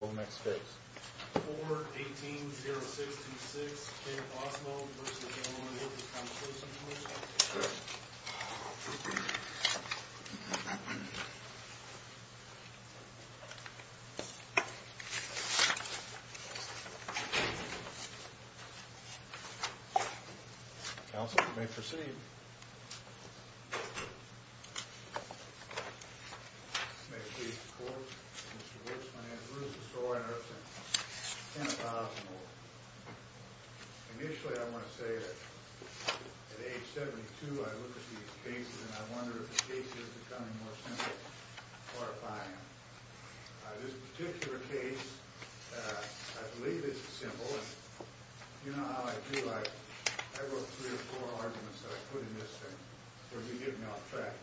Go to the next page. 4-18-0626 Ken Osmoe v. The Workers' Compensation Commission Counsel, you may proceed. May it please the court, Mr. Wolfman and Bruce Sorensen, Ken Osmoe. Initially I want to say that at age 72 I looked at these cases and I wonder if the case is becoming more simple or if I am. This particular case, I believe it's simple. You know how I do. I wrote three or four arguments that I put in this thing for you to get me off track.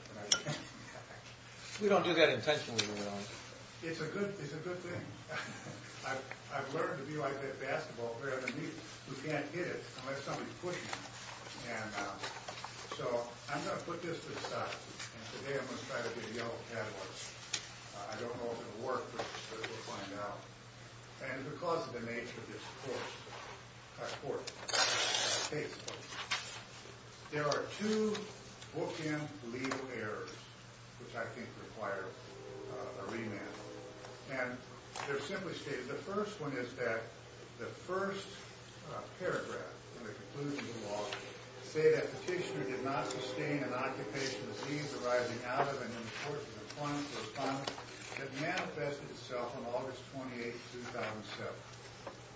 We don't do that intentionally, Your Honor. It's a good thing. I've learned to be like that basketball player who can't hit it unless somebody's pushing him. So I'm going to put this aside and today I'm going to try to do yellow catalogs. I don't know if it will work, but we'll find out. And because of the nature of this court case, there are two bookend legal errors which I think require a remand. And they're simply stated. The first one is that the first paragraph in the conclusion of the law say that the petitioner did not sustain an occupational disease arising out of an important response that manifested itself on August 28, 2007.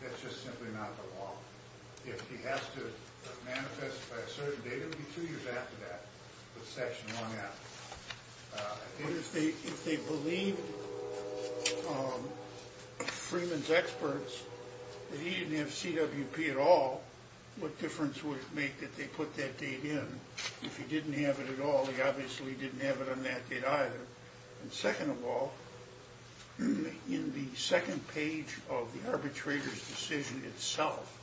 That's just simply not the law. If he has to manifest by a certain date, it would be two years after that, with section one out. If they believe Freeman's experts that he didn't have CWP at all, what difference would it make that they put that date in? If he didn't have it at all, he obviously didn't have it on that date either. And second of all, in the second page of the arbitrator's decision itself,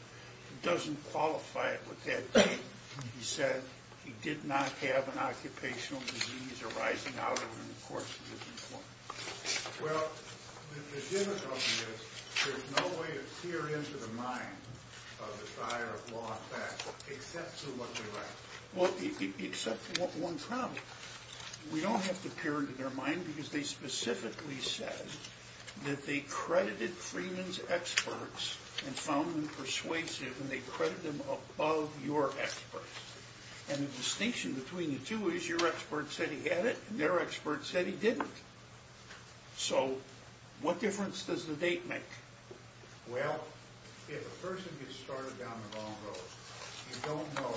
it doesn't qualify it with that date. He said he did not have an occupational disease arising out of an important response. Well, the difficulty is there's no way to peer into the mind of the fire of law and fact except through what they write. Well, except for one problem. We don't have to peer into their mind because they specifically said that they credited Freeman's experts and found them persuasive and they credited them above your experts. And the distinction between the two is your experts said he had it and their experts said he didn't. So, what difference does the date make? Well, if a person gets started down the wrong road, you don't know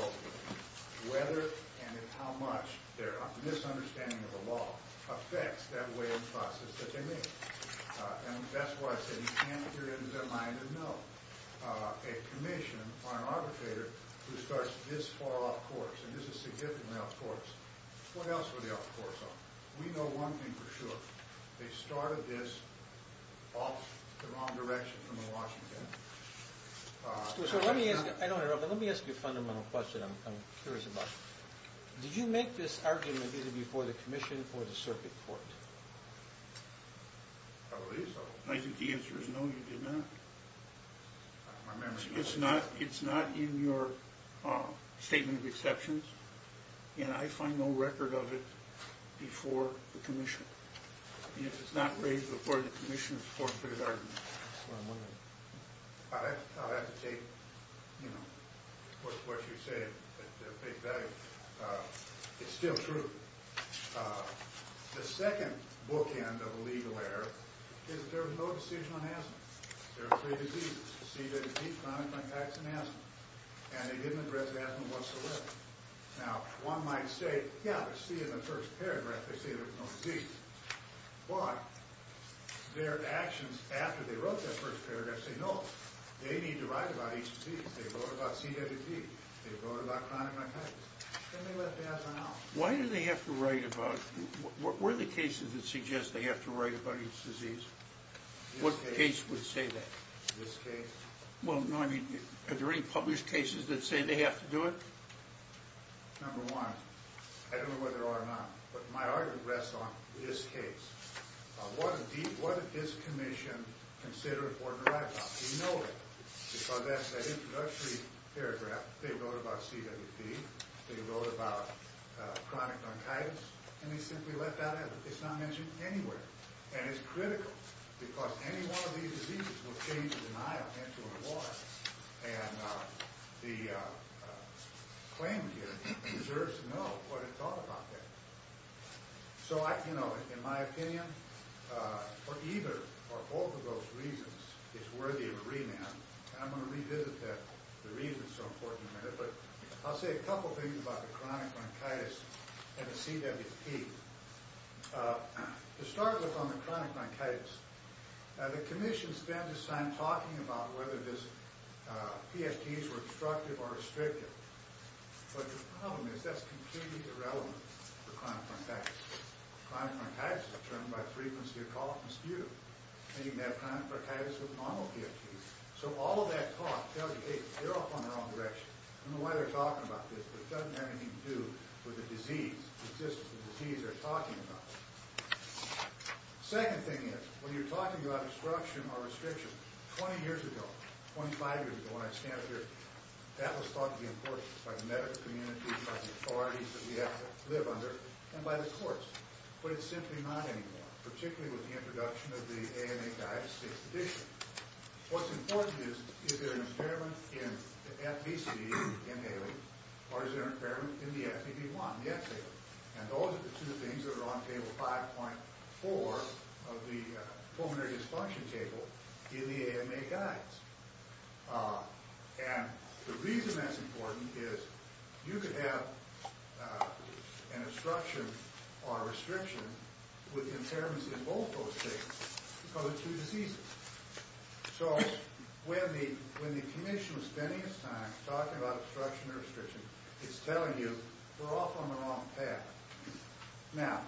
whether and how much their misunderstanding of the law affects that way of process that they make. And that's why I said you can't peer into their mind and know. A commission or an arbitrator who starts this far off course, and this is significantly off course, what else were they off course on? We know one thing for sure. They started this off the wrong direction from the Washington. Let me ask you a fundamental question I'm curious about. Did you make this argument either before the commission or the circuit court? I think the answer is no, you did not. It's not in your statement of exceptions. And I find no record of it before the commission. If it's not raised before the commission, of course, there's an argument. I'll have to take what you say at face value. It's still true. The second bookend of a legal error is that there was no decision on asthma. There were three diseases. CWT, chronic myocarditis, and asthma. And they didn't address asthma whatsoever. Now, one might say, yeah, but see in the first paragraph, they say there's no disease. Why? Their actions after they wrote that first paragraph say, no, they need to write about each disease. They wrote about CWT. They wrote about chronic myocarditis. Then they left asthma out. Why do they have to write about it? Were there cases that suggest they have to write about each disease? What case would say that? This case. Well, no, I mean, are there any published cases that say they have to do it? Number one, I don't know whether there are or not, but my argument rests on this case. What did this commission consider important to write about? Do you know that? Because that's that introductory paragraph. They wrote about CWT. They wrote about chronic myocarditis. And they simply left that out. It's not mentioned anywhere. And it's critical. Because any one of these diseases will change the denial into a law. And the claim here deserves to know what it taught about that. So, you know, in my opinion, for either or both of those reasons, it's worthy of a remand. And I'm going to revisit the reasons so important in a minute. But I'll say a couple things about the chronic myocarditis and the CWT. To start with on the chronic myocarditis, the commission spent its time talking about whether these PFTs were obstructive or restrictive. But the problem is that's completely irrelevant for chronic myocarditis. Chronic myocarditis is determined by frequency of cough and sputum. And you can have chronic myocarditis with normal PFTs. So all of that cough tells you, hey, you're off on the wrong direction. I don't know why they're talking about this, but it doesn't have anything to do with the disease. It's just the disease they're talking about. Second thing is, when you're talking about obstruction or restriction, 20 years ago, 25 years ago when I stamped here, that was thought to be important by the medical community, by the authorities that we have to live under, and by the courts. But it's simply not anymore, particularly with the introduction of the AMA guide to safe addiction. What's important is, is there an impairment in the FBCD in the AMA, or is there an impairment in the FBB1, the FTA? And those are the two things that are on Table 5.4 of the Pulmonary Dysfunction Table in the AMA guides. And the reason that's important is you could have an obstruction or a restriction with impairments in both those cases because of two diseases. So when the commission is spending its time talking about obstruction or restriction, it's telling you, we're off on the wrong path. Now,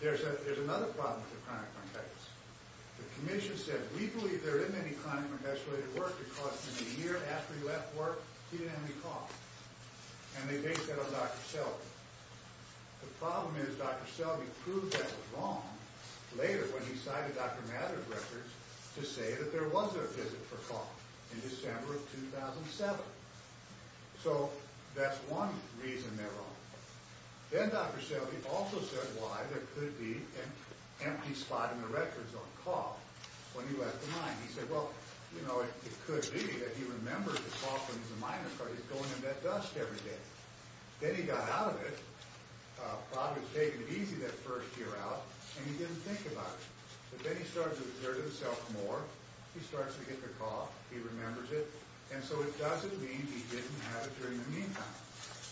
there's another problem with chronic myocarditis. The commission said, we believe there isn't any chronic myocarditis-related work because in the year after he left work, he didn't have any cough. And they based that on Dr. Selby. The problem is, Dr. Selby proved that was wrong later when he cited Dr. Mather's records to say that there was a visit for cough in December of 2007. So that's one reason they're wrong. Then Dr. Selby also said why there could be an empty spot in the records on cough when he left the mine. He said, well, you know, it could be that he remembers the cough in his myocarditis going into that dust every day. Then he got out of it. Probably was taking it easy that first year out, and he didn't think about it. But then he started to observe himself more. He starts to get the cough. He remembers it. And so it doesn't mean he didn't have it during the meantime.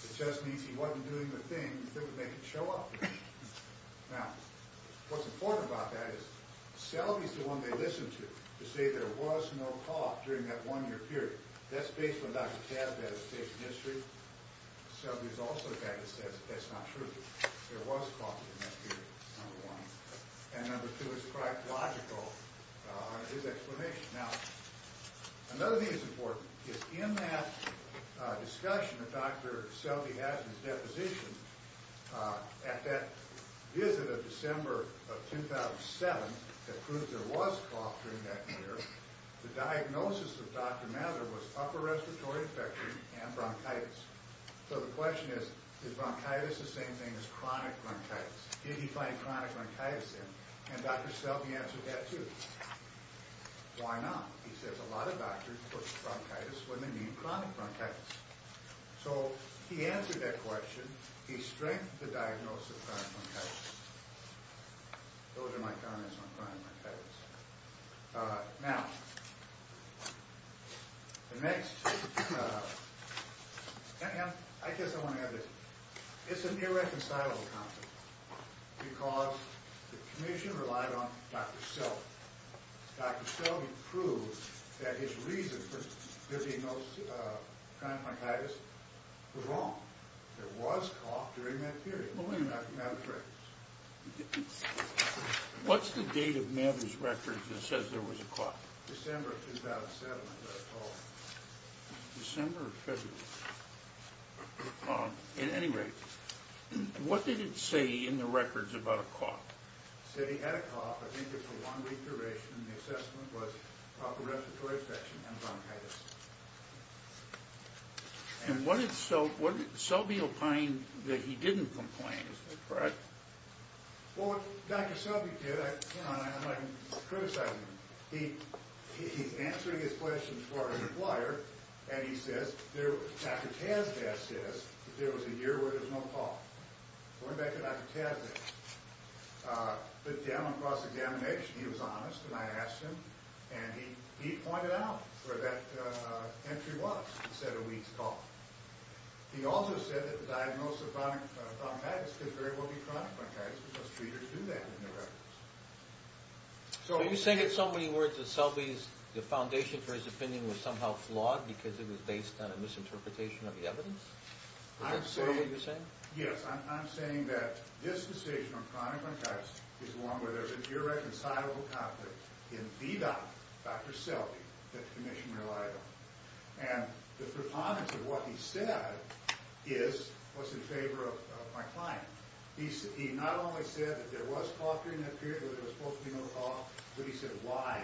It just means he wasn't doing the thing that would make it show up. Now, what's important about that is, Selby's the one they listened to to say there was no cough during that one-year period. That's based on Dr. Tadbett's case history. Selby's also the guy that says that's not true. There was cough in that period, number one. And number two is quite logical, his explanation. Now, another thing that's important is in that discussion that Dr. Selby has in his deposition, at that visit of December of 2007 that proved there was cough during that year, the diagnosis of Dr. Mather was upper respiratory infection and bronchitis. So the question is, is bronchitis the same thing as chronic bronchitis? Did he find chronic bronchitis then? And Dr. Selby answered that, too. Why not? He says a lot of doctors put bronchitis when they need chronic bronchitis. So he answered that question. He strengthened the diagnosis of chronic bronchitis. Those are my comments on chronic bronchitis. Now, the next, I guess I want to add this. It's an irreconcilable concept because the commission relied on Dr. Selby. Dr. Selby proved that his reason for visiting those chronic bronchitis was wrong. There was cough during that period. Only in that phrase. What's the date of Mather's records that says there was a cough? December of 2007, I believe. December or February. At any rate, what did it say in the records about a cough? It said he had a cough. I think it's a long-week duration. The assessment was proper respiratory infection and bronchitis. And what did Selby find that he didn't complain? Is that correct? Well, what Dr. Selby did, you know, I'm not even criticizing him. He's answering his questions for an employer, and he says, Dr. Tazda says there was a year where there was no cough. Going back to Dr. Tazda, the general cross-examination, he was honest, and I asked him, and he pointed out where that entry was. He said a week's cough. He also said that the diagnosis of bronchitis could very well be chronic bronchitis because treaters do that in their records. So you're saying in so many words that Selby's foundation for his opinion was somehow flawed because it was based on a misinterpretation of the evidence? Is that sort of what you're saying? Yes. I'm saying that this decision on chronic bronchitis is one where there's an irreconcilable conflict in the doctor, Dr. Selby, that the commission relied on. And the preponderance of what he said was in favor of my client. He not only said that there was cough during that period where there was supposed to be no cough, but he said why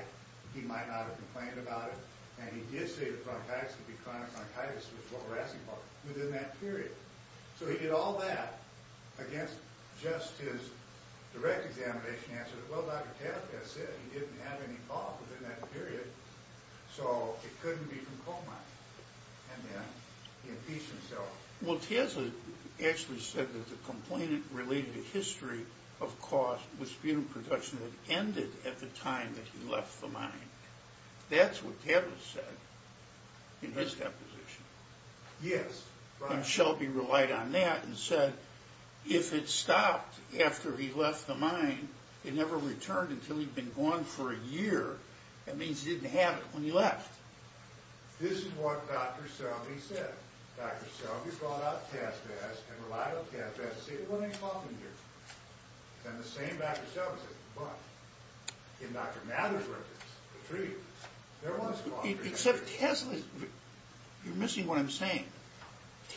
he might not have complained about it. And he did say that bronchitis could be chronic bronchitis, which is what we're asking about, within that period. So he did all that against just his direct examination answer that, well, Dr. Tavares said he didn't have any cough within that period, so it couldn't be from coma. And then he impeached himself. Well, Tavares actually said that the complainant related a history of cough with sputum production that ended at the time that he left the mine. That's what Tavares said in his deposition. Yes. And Selby relied on that and said if it stopped after he left the mine, it never returned until he'd been gone for a year. That means he didn't have it when he left. This is what Dr. Selby said. Dr. Selby brought up caspase and relied on caspase to say there wasn't any cough in here. And the same Dr. Selby said, but in Dr. Mather's reference, the treatment, there was cough in there. You're missing what I'm saying.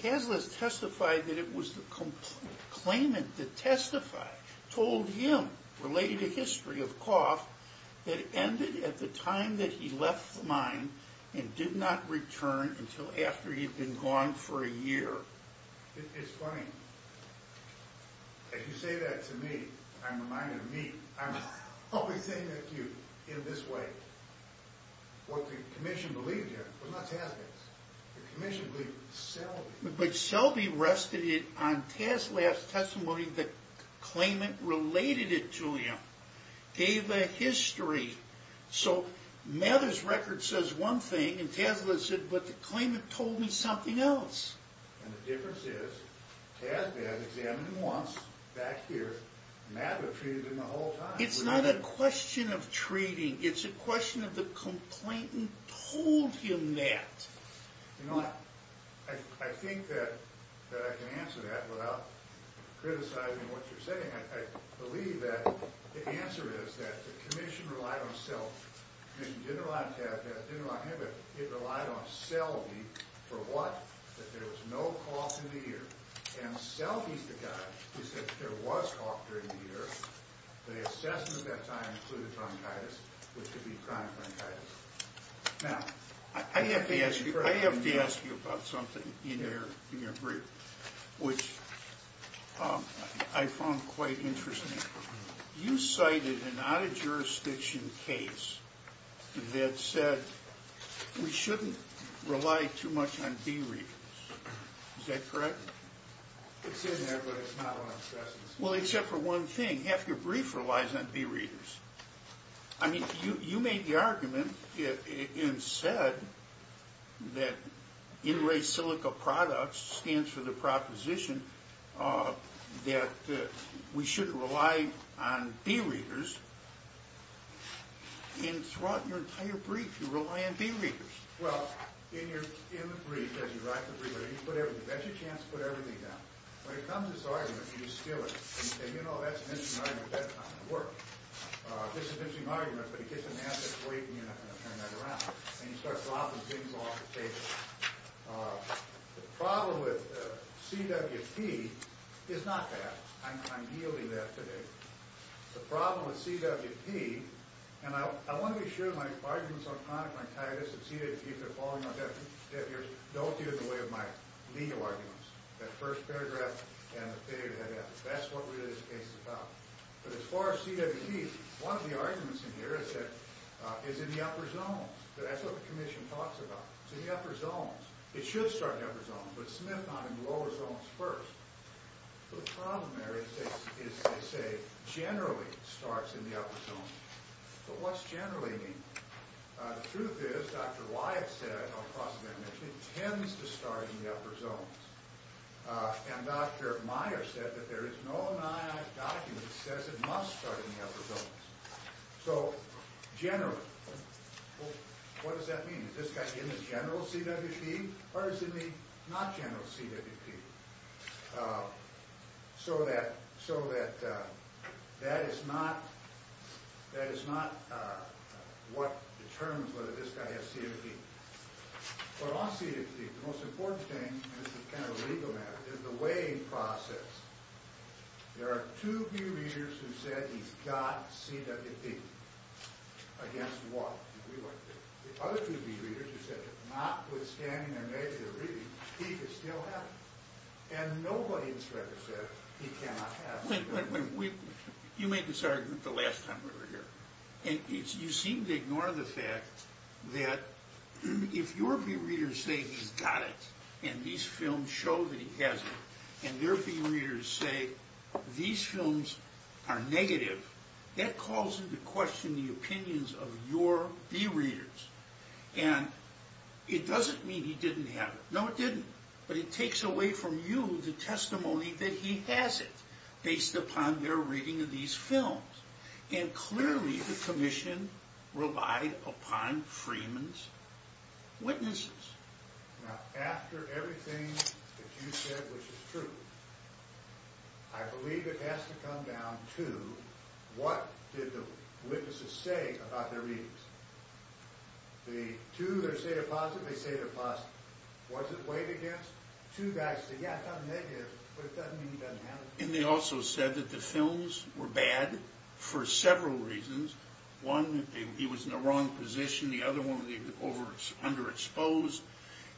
Taslas testified that it was the complainant that testified, told him related a history of cough that ended at the time that he left the mine and did not return until after he'd been gone for a year. It's funny. If you say that to me, I'm reminded of me. I'm always saying that to you in this way. What the commission believed here was not caspase. The commission believed Selby. But Selby rested it on Taslas' testimony that the claimant related it to him. Gave a history. So Mather's record says one thing, and Taslas said, but the claimant told me something else. And the difference is, caspase examined him once, back here, and Mather treated him the whole time. It's not a question of treating. It's a question of the complainant told him that. You know what? I think that I can answer that without criticizing what you're saying. I believe that the answer is that the commission relied on Selby. The commission didn't rely on Caspase, didn't rely on him, but it relied on Selby for what? That there was no cough in the year. And Selby's the guy who said that there was cough during the year. The assessment at that time included bronchitis, which would be chronic bronchitis. Now, I have to ask you about something in your brief, which I found quite interesting. You cited an out-of-jurisdiction case that said, we shouldn't rely too much on deregions. Is that correct? It's in there, but it's not what I'm discussing. Well, except for one thing. Half your brief relies on deregions. I mean, you made the argument and said that in res silica products stands for the proposition that we shouldn't rely on deregions. And throughout your entire brief, you rely on deregions. Well, in the brief, as you write the brief, you bet your chance to put everything down. When it comes to this argument, you steal it. You say, you know, that's an interesting argument. That's not going to work. This is an interesting argument. But he gets an answer that's waiting, and you're not going to turn that around. And you start dropping things off the table. The problem with CWP is not that. I'm yielding that today. The problem with CWP, and I want to be sure my arguments on chronic bronchitis and CWP that are falling on deaf ears don't get in the way of my legal arguments. That first paragraph and the figure that I have. That's what really this case is about. But as far as CWP, one of the arguments in here is that it's in the upper zones. That's what the commission talks about. It's in the upper zones. It should start in the upper zones, but Smith found it in the lower zones first. So the problem there is they say generally starts in the upper zones. But what's generally mean? The truth is, Dr. Wyatt said across the commission, it tends to start in the upper zones. And Dr. Meyer said that there is no document that says it must start in the upper zones. So generally, what does that mean? Is this guy in the general CWP, or is he in the not general CWP? So that is not what determines whether this guy has CWP. But on CWP, the most important thing, and this is kind of a legal matter, is the weighing process. There are two view readers who said he's got CWP. Against what? The other two view readers who said that notwithstanding their negative reading, he could still have it. And nobody in Shredder said he cannot have CWP. You made this argument the last time we were here, and you seem to ignore the fact that if your view readers say he's got it, and these films show that he has it, and their view readers say these films are negative, that calls into question the opinions of your view readers. And it doesn't mean he didn't have it. No, it didn't. But it takes away from you the testimony that he has it, based upon their reading of these films. And clearly the commission relied upon Freeman's witnesses. Now, after everything that you said, which is true, I believe it has to come down to what did the witnesses say about their readings. The two that say they're positive, they say they're positive. What's it weighed against? Two guys say, yeah, it's not negative, but it doesn't mean he doesn't have it. And they also said that the films were bad for several reasons. One, that he was in the wrong position. The other one, that he was underexposed.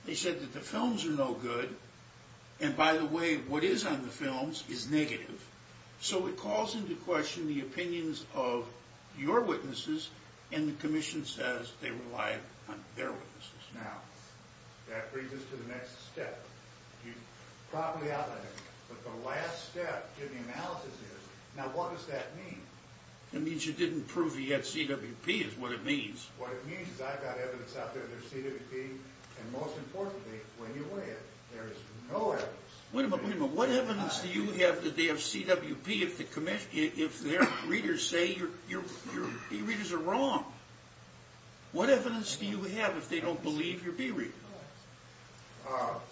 They said that the films are no good. And, by the way, what is on the films is negative. So it calls into question the opinions of your witnesses, and the commission says they relied on their witnesses. Now, that brings us to the next step. You properly outlined it, but the last step in the analysis is, now what does that mean? It means you didn't prove he had CWP, is what it means. What it means is I've got evidence out there that there's CWP, and most importantly, when you weigh it, there is no evidence. Wait a minute, wait a minute. What evidence do you have that they have CWP if their readers say your B readers are wrong? What evidence do you have if they don't believe your B readers?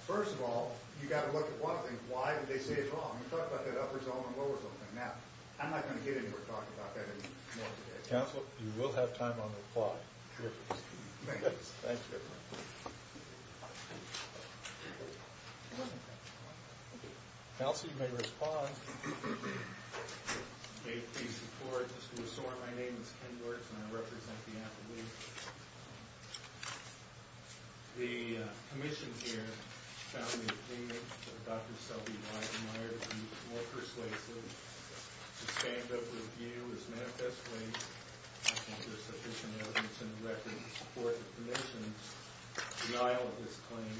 First of all, you've got to look at one thing. Why did they say it's wrong? You talked about that upper zone and lower zone thing. Now, I'm not going to get into talking about that anymore today. Counsel, you will have time on the reply. Thanks, everyone. Counsel, you may respond. Okay, please report. My name is Ken Gortz, and I represent the appellee. The commission here found the opinion of Dr. Selby and Eisenmeier to be more persuasive. The standup review is manifestly that there's sufficient evidence in the record to support the commission's denial of this claim.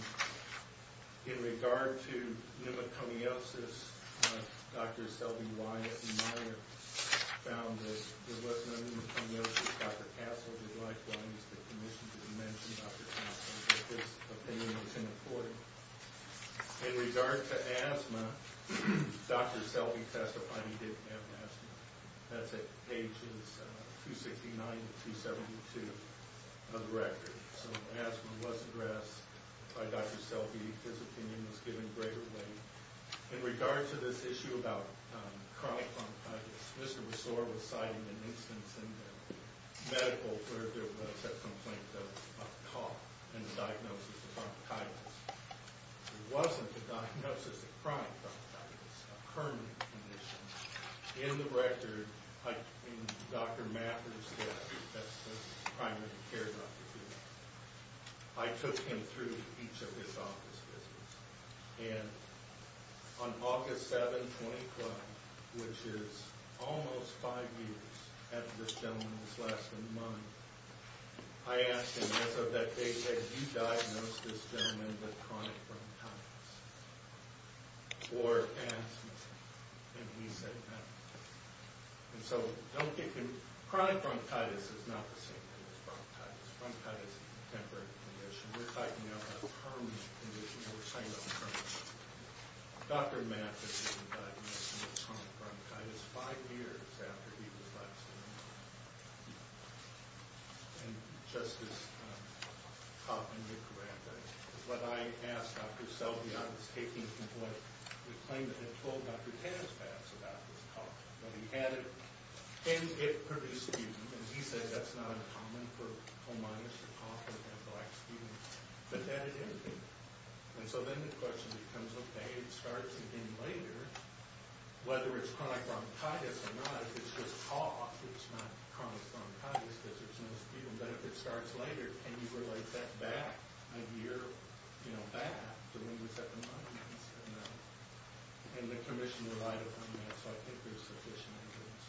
In regard to pneumoconiosis, Dr. Selby, Wyatt, and Eisenmeier found that there was no pneumoconiosis. Dr. Castle did likewise. The commission didn't mention Dr. Castle, but this opinion is important. In regard to asthma, Dr. Selby testified he didn't have asthma. That's at pages 269 to 272 of the record. So asthma was addressed by Dr. Selby. His opinion was given greater weight. In regard to this issue about chronic bronchitis, Mr. Besore was citing an instance in the medical clerical notes that complained of a cough in the diagnosis of bronchitis. It wasn't the diagnosis of chronic bronchitis, a permanent condition. In the record, Dr. Mathers said that's the primary care doctor. I took him through each of his office visits. On August 7, 2012, which is almost five years after this gentleman was last in the mine, I asked him, as of that date, have you diagnosed this gentleman with chronic bronchitis or asthma? And he said asthma. So chronic bronchitis is not the same thing as bronchitis. Bronchitis is a temporary condition. We're talking about a permanent condition. We're talking about a permanent condition. Dr. Mathers was diagnosed with chronic bronchitis five years after he was last in the mine. And just as cough and nucleic acid. What I asked Dr. Selby, I was taking from what was claimed that had told Dr. Taspass about this cough. And he said that's not uncommon for home miners to cough and have black skin. But that it is. And so then the question becomes, okay, it starts again later. Whether it's chronic bronchitis or not, if it's just cough, it's not chronic bronchitis, because there's no skin. But if it starts later, can you relate that back a year back to when he was at the mine? And the commission relied upon that, so I think there's sufficient evidence.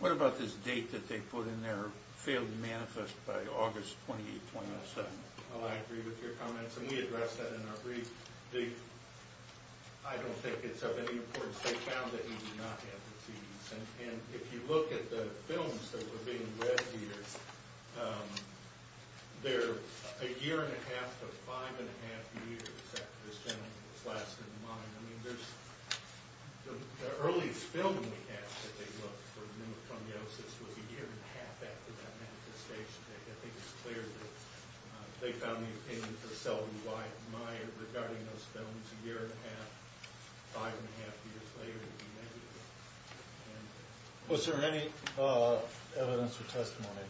What about this date that they put in there, failed to manifest by August 28, 2007? Oh, I agree with your comments, and we addressed that in our brief. I don't think it's of any importance. They found that he did not have the disease. And if you look at the films that were being read here, they're a year-and-a-half to five-and-a-half years after this gentleman was last at the mine. I mean, the earliest film we had that they looked for pneumoconiosis was a year-and-a-half after that manifestation. I think it's clear that they found the opinion of Selby, Wyatt, and Meyer regarding those films a year-and-a-half, five-and-a-half years later to be negative. Was there any evidence or testimony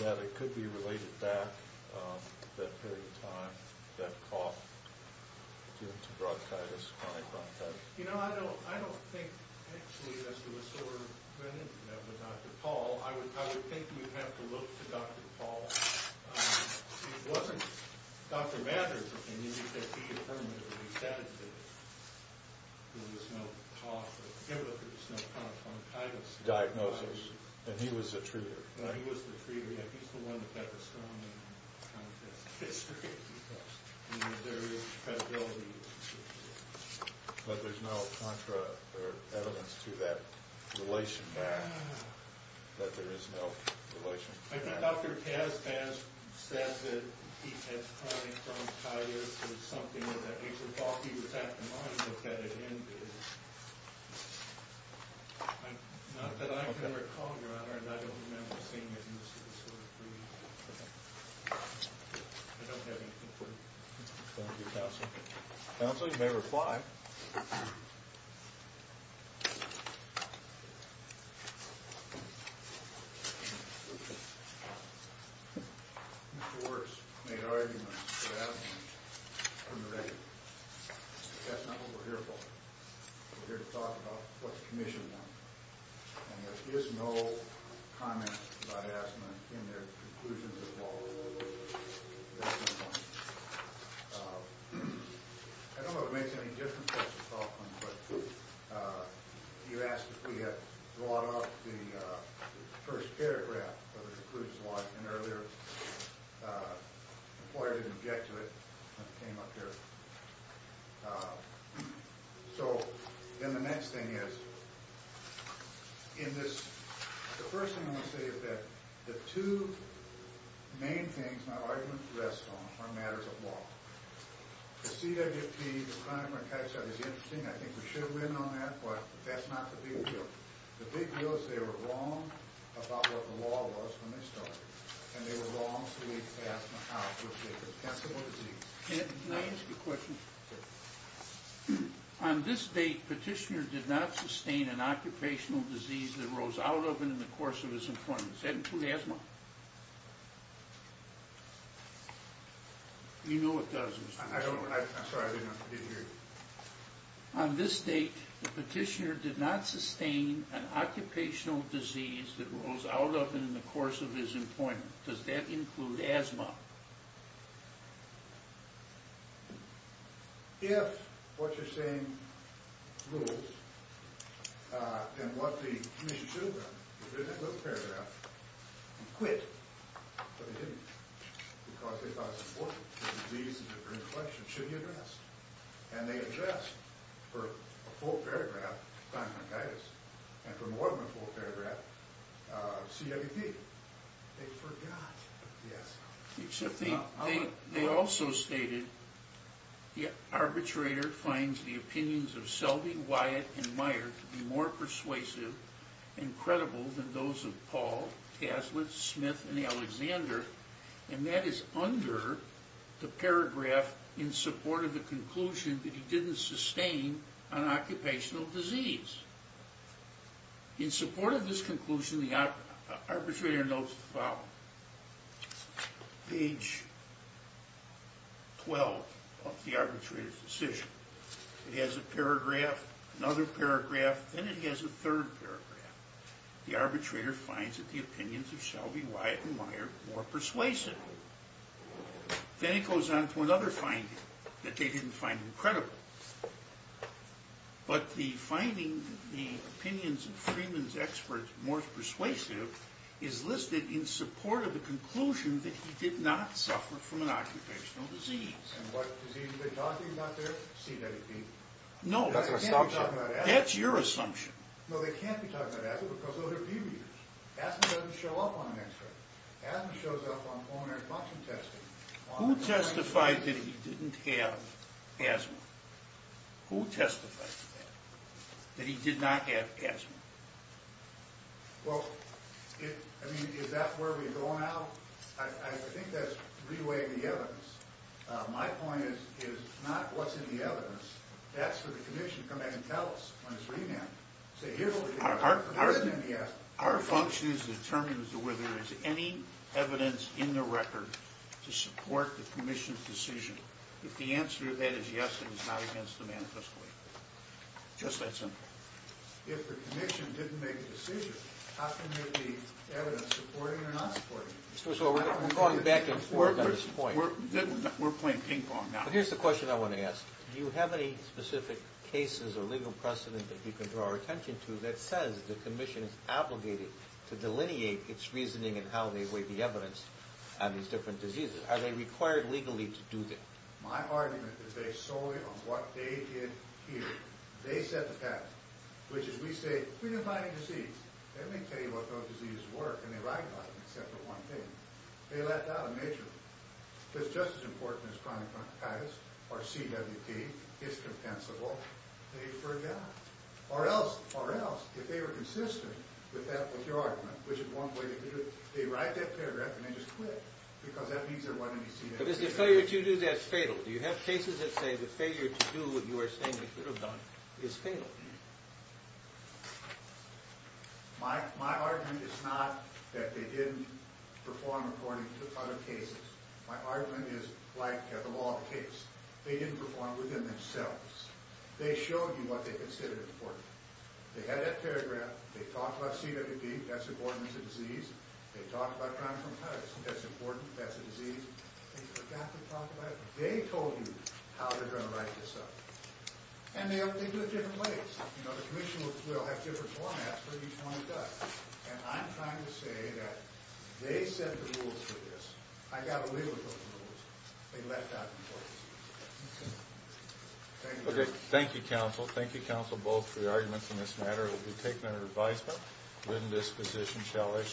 that it could be related back to that period of time, that cough, due to bronchitis, chronic bronchitis? You know, I don't think, actually, that's the disorder that went into that with Dr. Paul. I would think you'd have to look to Dr. Paul. See, it wasn't Dr. Manners that made that key affirmation. He said that there was no cough or fever, there was no chronic bronchitis. Diagnosis, and he was the treater. He was the treater. Yeah, he's the one that had the strongest contact history. And there is credibility. But there's no contra or evidence to that relation back, that there is no relation. I think Dr. Kaspas said that he had chronic bronchitis. It was something that Dr. Paul, he was at the moment that that had ended. Not that I can recall, Your Honor, and I don't remember seeing it. I don't have anything for you. Thank you, Counsel. Counsel, you may reply. Mr. Wirtz made arguments about asthma from the record. But that's not what we're here for. We're here to talk about what the commission wanted. And there is no comment about asthma in their conclusions at all. I don't know if it makes any difference, Dr. Faulkner, but you asked if we had brought up the first paragraph of the precludes law. And earlier, the employer didn't object to it when it came up here. So, then the next thing is, in this, the first thing I want to say is that the two main things my argument rests on are matters of law. The CWP, the chronic bronchitis study is interesting. I think we should win on that. But that's not the big deal. The big deal is they were wrong about what the law was when they started. And they were wrong to leave asthma out, which is a potential disease. Can I ask you a question? Sure. On this date, Petitioner did not sustain an occupational disease that rose out of it in the course of his employment. Does that include asthma? You know it does, Mr. Wirtz. I'm sorry, I didn't hear you. On this date, Petitioner did not sustain an occupational disease that rose out of it in the course of his employment. Does that include asthma? If what you're saying rules, then what the commission should have done is they didn't look at the paragraph and quit. But they didn't. Because they thought it was important. The disease is a great question. It should be addressed. And they addressed, for a full paragraph, bronchitis. And for more than a full paragraph, CWP. They forgot. Yes. Except they also stated, the arbitrator finds the opinions of Selby, Wyatt, and Meyer to be more persuasive and credible than those of Paul, Taslett, Smith, and Alexander. And that is under the paragraph in support of the conclusion that he didn't sustain an occupational disease. In support of this conclusion, the arbitrator notes the following. Page 12 of the arbitrator's decision. It has a paragraph, another paragraph, then it has a third paragraph. The arbitrator finds that the opinions of Selby, Wyatt, and Meyer more persuasive. Then it goes on to another finding, that they didn't find them credible. But the finding, the opinions of Freeman's experts more persuasive, is listed in support of the conclusion that he did not suffer from an occupational disease. And what disease are they talking about there? CWP. No. That's an assumption. That's your assumption. No, they can't be talking about asthma because those are view readers. Asthma doesn't show up on an x-ray. Asthma shows up on pulmonary function testing. Who testified that he didn't have asthma? Who testified to that? That he did not have asthma? Well, I mean, is that where we're going now? I think that's reweighting the evidence. My point is not what's in the evidence. That's for the commission to come back and tell us when it's revamped. Our function is to determine whether there is any evidence in the record to support the commission's decision. If the answer to that is yes, then it's not against the manifesto. Just that simple. If the commission didn't make a decision, how can there be evidence supporting or not supporting it? We're going back and forth on this point. We're playing ping pong now. Well, here's the question I want to ask. Do you have any specific cases or legal precedent that you can draw our attention to that says the commission is obligated to delineate its reasoning and how they weigh the evidence on these different diseases? Are they required legally to do that? My argument is based solely on what they did here. They set the pattern, which is we say, we're defining disease. Everybody can tell you what those diseases were, and they recognize them except for one thing. They left out a major one. It's just as important as chronic bronchitis or CWD. It's compensable. They forgot. Or else, if they were consistent with your argument, which is one way to do it, they write that paragraph and they just quit, because that means there wasn't any CWD. But is the failure to do that fatal? Do you have cases that say the failure to do what you are saying they should have done is fatal? My argument is not that they didn't perform according to other cases. My argument is like the law of the case. They didn't perform within themselves. They showed you what they considered important. They had that paragraph. They talked about CWD. That's important. It's a disease. They talked about chronic bronchitis. That's important. That's a disease. They forgot to talk about it. They told you how they're going to write this up. And they do it different ways. The commission will have different formats for each one of us. And I'm trying to say that they set the rules for this. I got away with those rules. They left that in place. Thank you. Okay. Thank you, counsel. Thank you, counsel, both, for your arguments on this matter. We'll be taking it under advisement. We're in this position, shall I say.